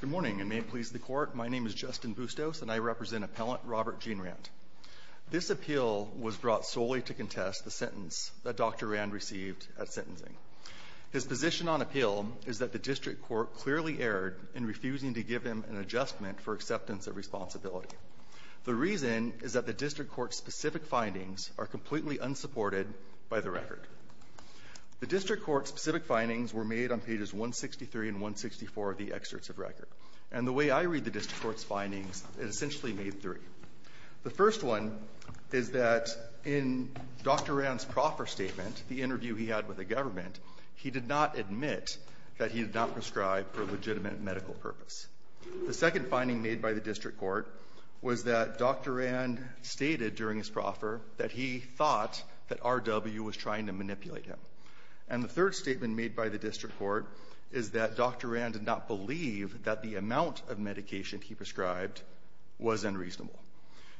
Good morning, and may it please the Court, my name is Justin Bustos and I represent Appellant Robert Gene Rand. This appeal was brought solely to contest the sentence that Dr. Rand received at sentencing. His position on appeal is that the District Court clearly erred in refusing to give him an adjustment for acceptance of responsibility. The reason is that the District Court's findings are completely unsupported by the record. The District Court's specific findings were made on pages 163 and 164 of the excerpts of record. And the way I read the District Court's findings, it essentially made three. The first one is that in Dr. Rand's proffer statement, the interview he had with the government, he did not admit that he had not prescribed for legitimate medical purpose. The second finding made by the District Court was that Dr. Rand stated during his proffer that he thought that RW was trying to manipulate him. And the third statement made by the District Court is that Dr. Rand did not believe that the amount of medication he prescribed was unreasonable.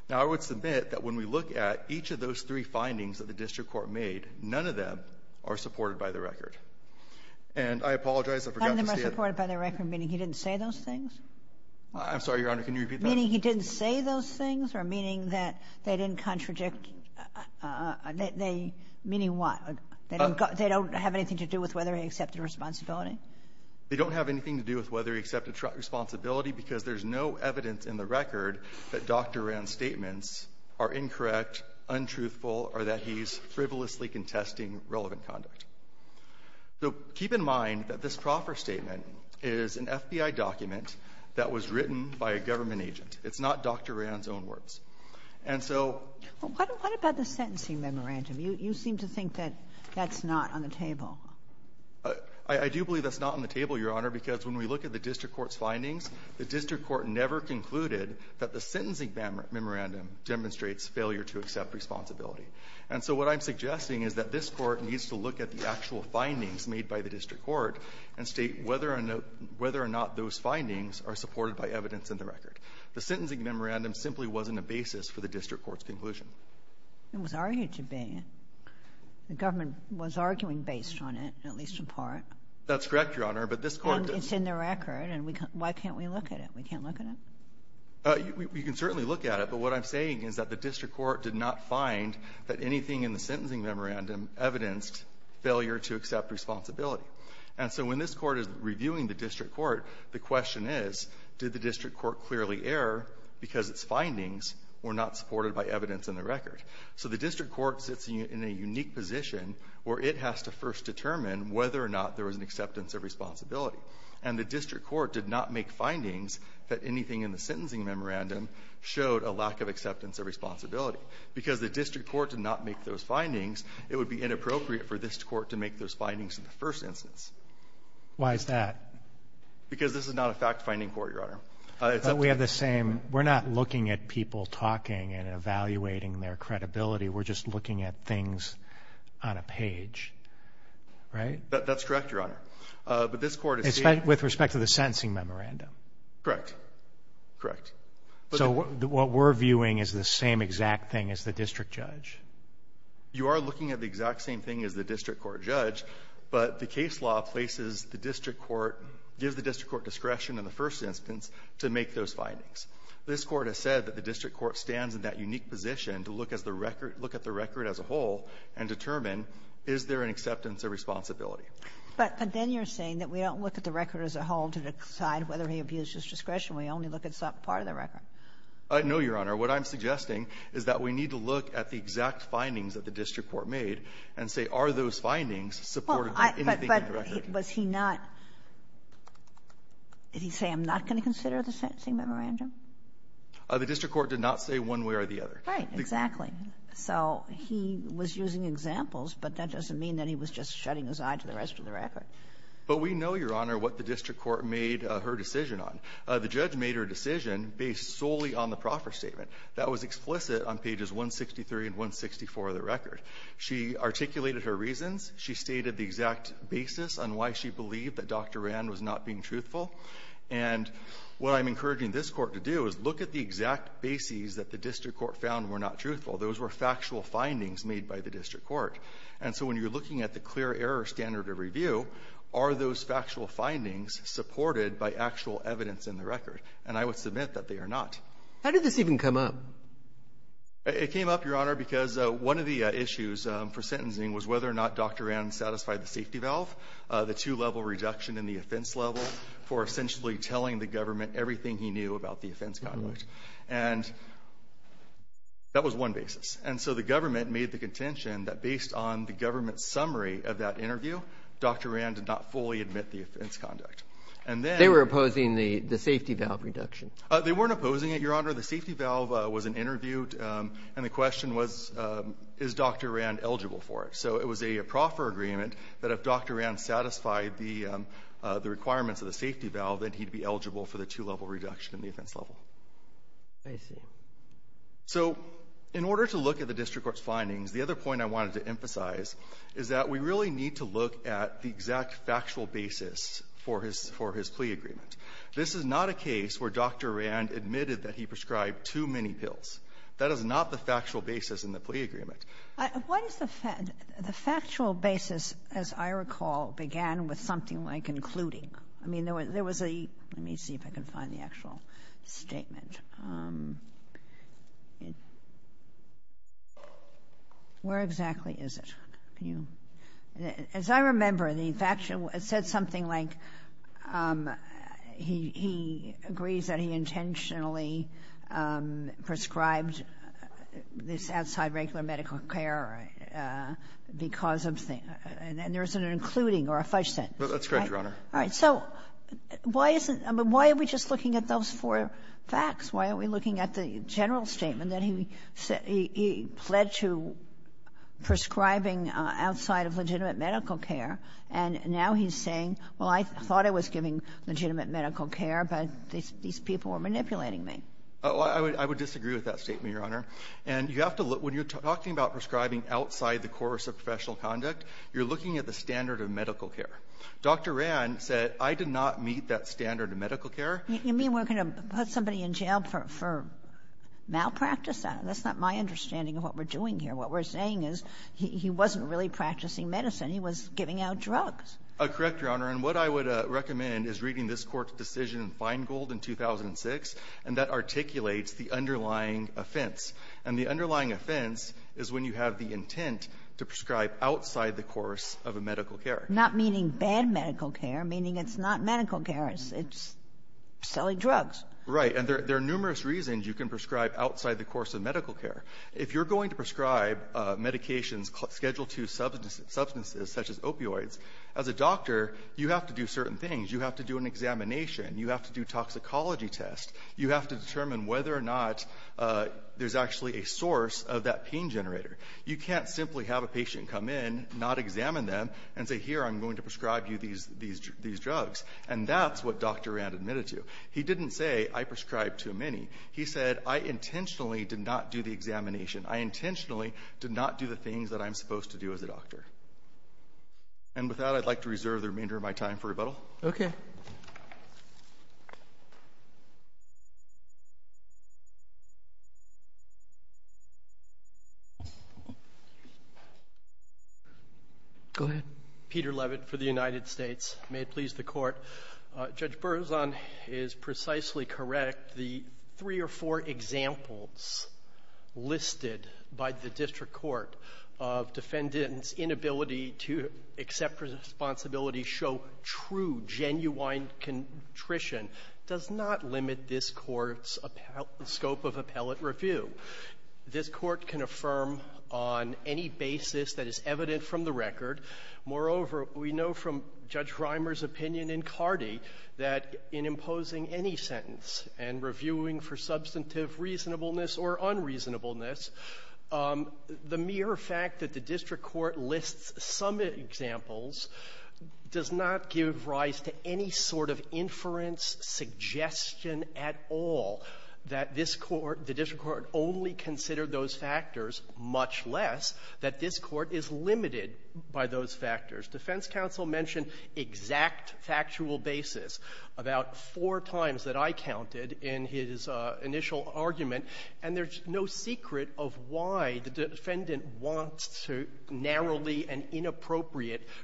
Now, I would submit that when we look at each of those three findings that the District Court made, none of them are supported by the record. And I apologize, I forgot to say it. I'm the most supported by the record, meaning he didn't say those things? I'm sorry, Your Honor, can you repeat that? Meaning he didn't say those things, or meaning that they didn't contradict they — meaning what? They don't have anything to do with whether he accepted responsibility? They don't have anything to do with whether he accepted responsibility because there's no evidence in the record that Dr. Rand's statements are incorrect, untruthful, or that he's frivolously contesting relevant conduct. So keep in mind that this proffer statement is an FBI document that was written by a government agent. It's not Dr. Rand's own words. And so — What about the sentencing memorandum? You seem to think that that's not on the table. I do believe that's not on the table, Your Honor, because when we look at the District Court's findings, the District Court never concluded that the sentencing memorandum demonstrates failure to accept responsibility. And so what I'm suggesting is that this Court needs to look at the actual findings made by the District Court and state whether or not those findings are supported by evidence in the record. The sentencing memorandum simply wasn't a basis for the District Court's conclusion. It was argued to be. The government was arguing based on it, at least in part. That's correct, Your Honor. But this Court does — And it's in the record. And we can't — why can't we look at it? We can't look at it? You can certainly look at it. But what I'm saying is that the District Court did not find that anything in the sentencing memorandum evidenced failure to accept responsibility. And so when this Court is reviewing the District Court, the question is, did the District Court clearly err because its findings were not supported by evidence in the record? So the District Court sits in a unique position where it has to first determine whether or not there was an acceptance of responsibility. And the District Court did not make findings that anything in the sentencing memorandum showed a lack of acceptance of responsibility because the District Court did not make those findings, it would be inappropriate for this Court to make those findings in the first instance. Why is that? Because this is not a fact-finding court, Your Honor. But we have the same — we're not looking at people talking and evaluating their credibility. We're just looking at things on a page, right? That's correct, Your Honor. But this Court has seen — With respect to the sentencing memorandum. Correct. Correct. So what we're viewing is the same exact thing as the district judge. You are looking at the exact same thing as the district court judge, but the case law places the district court — gives the district court discretion in the first instance to make those findings. This Court has said that the district court stands in that unique position to look at the record as a whole and determine, is there an acceptance of responsibility? But then you're saying that we don't look at the record as a whole to decide whether he abused his discretion. We only look at part of the record. No, Your Honor. What I'm suggesting is that we need to look at the exact findings that the district court made and say, are those findings supportive of anything in the record? But was he not — did he say, I'm not going to consider the sentencing memorandum? The district court did not say one way or the other. Right. Exactly. So he was using examples, but that doesn't mean that he was just shutting his eye to the rest of the record. But we know, Your Honor, what the district court made her decision on. The judge made her decision based solely on the proffer statement. That was explicit on pages 163 and 164 of the record. She articulated her reasons. She stated the exact basis on why she believed that Dr. Rand was not being truthful. And what I'm encouraging this Court to do is look at the exact bases that the district court found were not truthful. Those were factual findings made by the district court. And so when you're looking at the clear error standard of review, are those factual findings supported by actual evidence in the record? And I would submit that they are not. How did this even come up? It came up, Your Honor, because one of the issues for sentencing was whether or not Dr. Rand satisfied the safety valve, the two-level reduction in the offense level for essentially telling the government everything he knew about the offense conduct. And that was one basis. And so the government made the contention that based on the government's summary of that interview, Dr. Rand did not fully admit the offense conduct. And then they were opposing the safety valve reduction. They weren't opposing it, Your Honor. The safety valve was an interview, and the question was, is Dr. Rand eligible for it? So it was a proffer agreement that if Dr. Rand satisfied the requirements of the safety valve, then he'd be eligible for the two-level reduction in the offense level. I see. So in order to look at the district court's findings, the other point I wanted to emphasize is that we really need to look at the exact factual basis for his plea agreement. This is not a case where Dr. Rand admitted that he prescribed too many pills. That is not the factual basis in the plea agreement. What is the factual basis, as I recall, began with something like including. I mean, there was a — let me see if I can find the actual statement. Where exactly is it? Can you — as I remember, the factual — it said something like he agrees that he intentionally prescribed this outside regular medical care because of the — and there's an including or a fudge sentence. That's correct, Your Honor. All right. So why isn't — I mean, why are we just looking at those four facts? Why are we looking at the general statement that he said — he pled to prescribing outside of legitimate medical care, and now he's saying, well, I thought I was giving legitimate medical care, but these people were manipulating me? I would disagree with that statement, Your Honor. And you have to look — when you're talking about prescribing outside the course of professional conduct, you're looking at the standard of medical care. Dr. Rann said, I did not meet that standard of medical care. You mean we're going to put somebody in jail for malpractice? That's not my understanding of what we're doing here. What we're saying is he wasn't really practicing medicine. He was giving out drugs. Correct, Your Honor. And what I would recommend is reading this Court's decision in Feingold in 2006, and that articulates the underlying offense. And the underlying offense is when you have the intent to prescribe outside the course of a medical care. Not meaning bad medical care, meaning it's not medical care. It's selling drugs. Right. And there are numerous reasons you can prescribe outside the course of medical care. If you're going to prescribe medications scheduled to substances such as opioids, as a doctor, you have to do certain things. You have to do an examination. You have to do toxicology tests. You have to determine whether or not there's actually a source of that pain generator. You can't simply have a patient come in, not examine them, and say, here, I'm going to prescribe you these drugs. And that's what Dr. Rand admitted to. He didn't say, I prescribe too many. He said, I intentionally did not do the examination. I intentionally did not do the things that I'm supposed to do as a doctor. And with that, I'd like to reserve the remainder of my time for rebuttal. Okay. Go ahead. Peter Levitt for the United States. May it please the Court. Judge Berzon is precisely correct. The three or four examples listed by the district court of defendants' inability to accept responsibility show true, genuine contrition. It does not limit this Court's scope of appellate review. This Court can affirm on any basis that is evident from the record. Moreover, we know from Judge Reimer's opinion in Cardi that in imposing any sentence and reviewing for substantive reasonableness or unreasonableness, the mere fact that the district court lists some examples does not give rise to any sort of inference, suggestion at all that this Court, the district court only considered those factors, much less that this Court is limited by those factors. Defense counsel mentioned exact factual basis about four times that I counted in his initial argument, and there's no secret of why the defendant wants to narrowly and inappropriately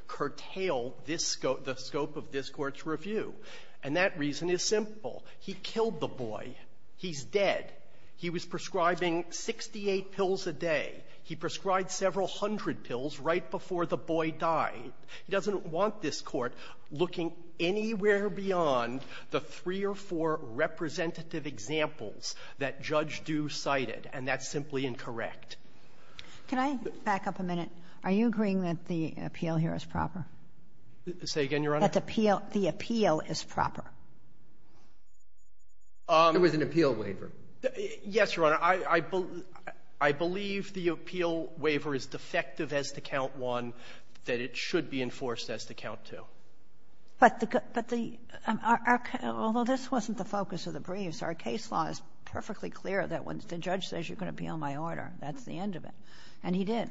curtail this scope, the scope of this Court's review. And that reason is simple. He killed the boy. He's dead. He was prescribing 68 pills a day. He prescribed several hundred pills right before the boy died. He doesn't want this Court looking anywhere beyond the three or four representative examples that Judge Due cited, and that's simply incorrect. Can I back up a minute? Are you agreeing that the appeal here is proper? Say again, Your Honor? That the appeal is proper? It was an appeal waiver. Yes, Your Honor. I believe the appeal waiver is defective as to count one, that it should be enforced as to count two. But the good --" although this wasn't the focus of the briefs, our case law is perfectly clear that when the judge says you can appeal my order, that's the end of it, and he did.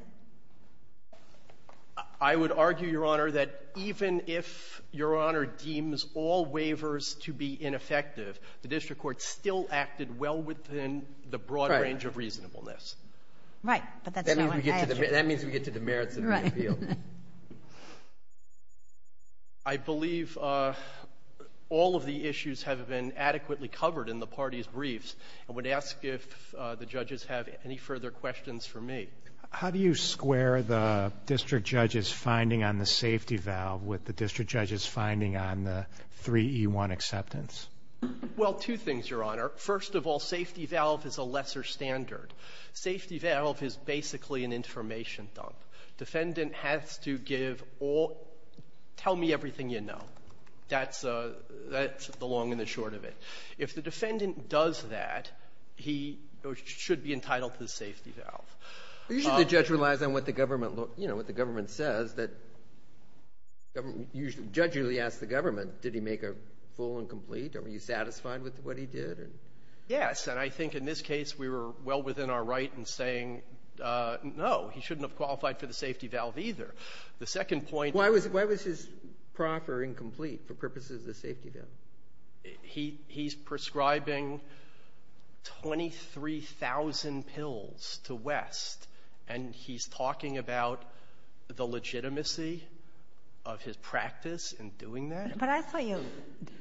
I would argue, Your Honor, that even if Your Honor deems all waivers to be ineffective, the district court still acted well within the broad range of reasonableness. Right. Right. But that's not what I asked you. That means we get to the merits of the appeal. Right. I believe all of the issues have been adequately covered in the parties' briefs. I would ask if the judges have any further questions for me. How do you square the district judge's finding on the safety valve with the district judge's finding on the 3E1 acceptance? Well, two things, Your Honor. First of all, safety valve is a lesser standard. Safety valve is basically an information dump. Defendant has to give all --"tell me everything you know." That's the long and the short of it. If the defendant does that, he should be entitled to the safety valve. Usually, the judge relies on what the government, you know, what the government says that the government usually asks the government, did he make a full and complete? Are you satisfied with what he did? Yes. And I think in this case, we were well within our right in saying, no, he shouldn't have qualified for the safety valve either. The second point --" Why was his proffer incomplete for purposes of the safety valve? He's prescribing 23,000 pills to West, and he's talking about the legitimacy of his practice in doing that? But I thought you,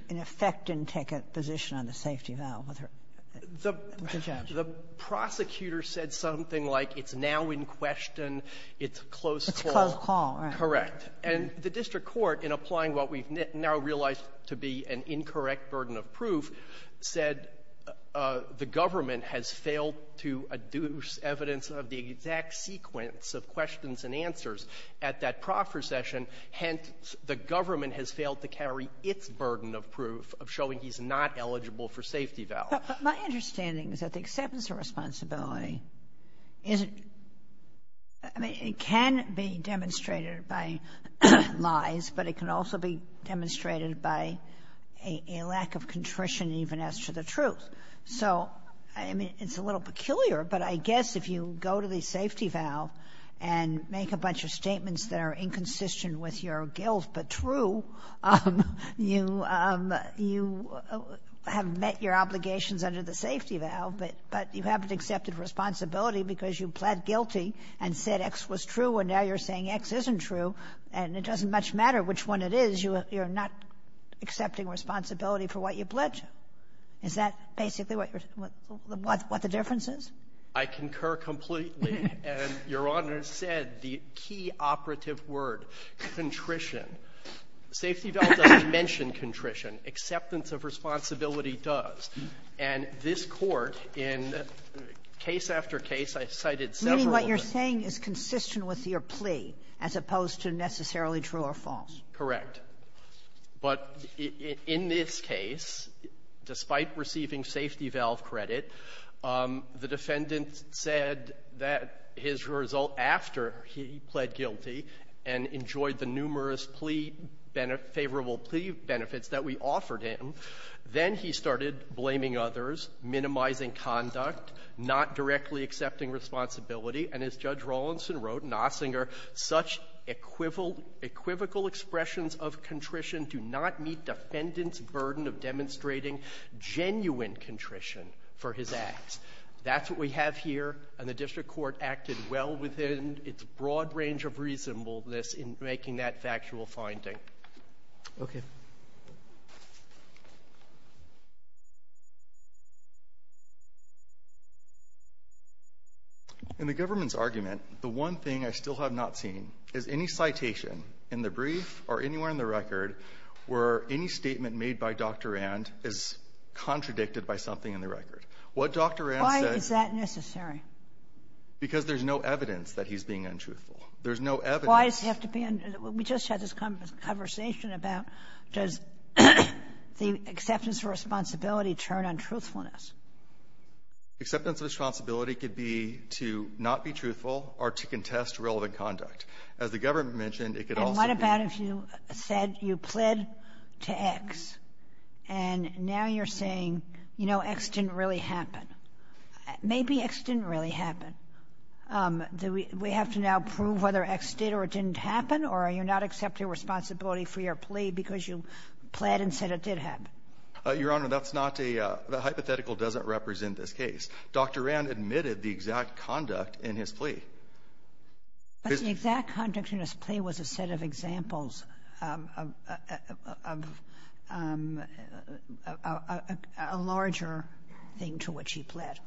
in effect, didn't take a position on the safety valve with her judge. The prosecutor said something like it's now in question, it's a close call. It's a close call, right. Correct. And the district court, in applying what we've now realized to be an incorrect burden of proof, said the government has failed to adduce evidence of the exact sequence of questions and answers at that proffer session. Hence, the government has failed to carry its burden of proof of showing he's not eligible for safety valve. But my understanding is that the acceptance of responsibility isn't ‒ I mean, it can be demonstrated by lies, but it can also be demonstrated by a lack of contrition even as to the truth. So, I mean, it's a little peculiar, but I guess if you go to the safety valve and make a bunch of statements that are inconsistent with your guilt but true, you have met your obligations under the safety valve, but you haven't accepted responsibility because you pled guilty and said X was true, and now you're saying X isn't true, and it doesn't much matter which one it is, you're not accepting responsibility for what you pledged. Is that basically what the difference is? I concur completely. And Your Honor said the key operative word, contrition. Safety valve doesn't mention contrition. Acceptance of responsibility does. And this Court in case after case, I cited several of them. Meaning what you're saying is consistent with your plea, as opposed to necessarily true or false. Correct. But in this case, despite receiving safety valve credit, the defendant said that his result after he pled guilty and enjoyed the numerous plea ‒ favorable plea benefits that we offered him ‒ then he started blaming others, minimizing conduct, not directly accepting responsibility, and as Judge Rawlinson wrote in Ossinger, such equivocal expressions of contrition do not meet defendant's burden of demonstrating genuine contrition for his acts. That's what we have here, and the district court acted well within its broad range of reasonableness in making that factual finding. Okay. In the government's argument, the one thing I still have not seen is any citation in the brief or anywhere in the record where any statement made by Dr. Rand is contradicted by something in the record. What Dr. Rand said ‒ Why is that necessary? Because there's no evidence that he's being untruthful. There's no evidence ‒ Why does he have to be ‒ we just had this conversation about does the acceptance of responsibility turn on truthfulness? Acceptance of responsibility could be to not be truthful or to contest relevant conduct. As the government mentioned, it could also be ‒ And what about if you said you pled to X, and now you're saying, you know, X didn't really happen. Maybe X didn't really happen. Do we have to now prove whether X did or didn't happen, or are you not accepting responsibility for your plea because you pled and said it did happen? Your Honor, that's not a ‒ the hypothetical doesn't represent this case. Dr. Rand admitted the exact conduct in his plea. But the exact conduct in his plea was a set of examples of a larger thing to which he pled.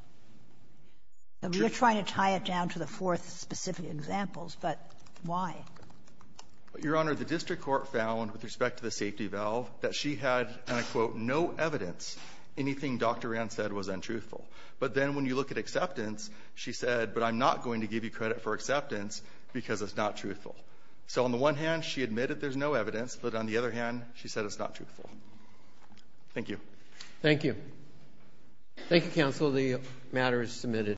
We're trying to tie it down to the fourth specific examples, but why? Your Honor, the district court found with respect to the safety valve that she had, and I quote, no evidence anything Dr. Rand said was untruthful. But then when you look at acceptance, she said, but I'm not going to give you credit for acceptance because it's not truthful. So on the one hand, she admitted there's no evidence, but on the other hand, she said it's not truthful. Thank you. Thank you. Thank you, counsel. The matter is submitted.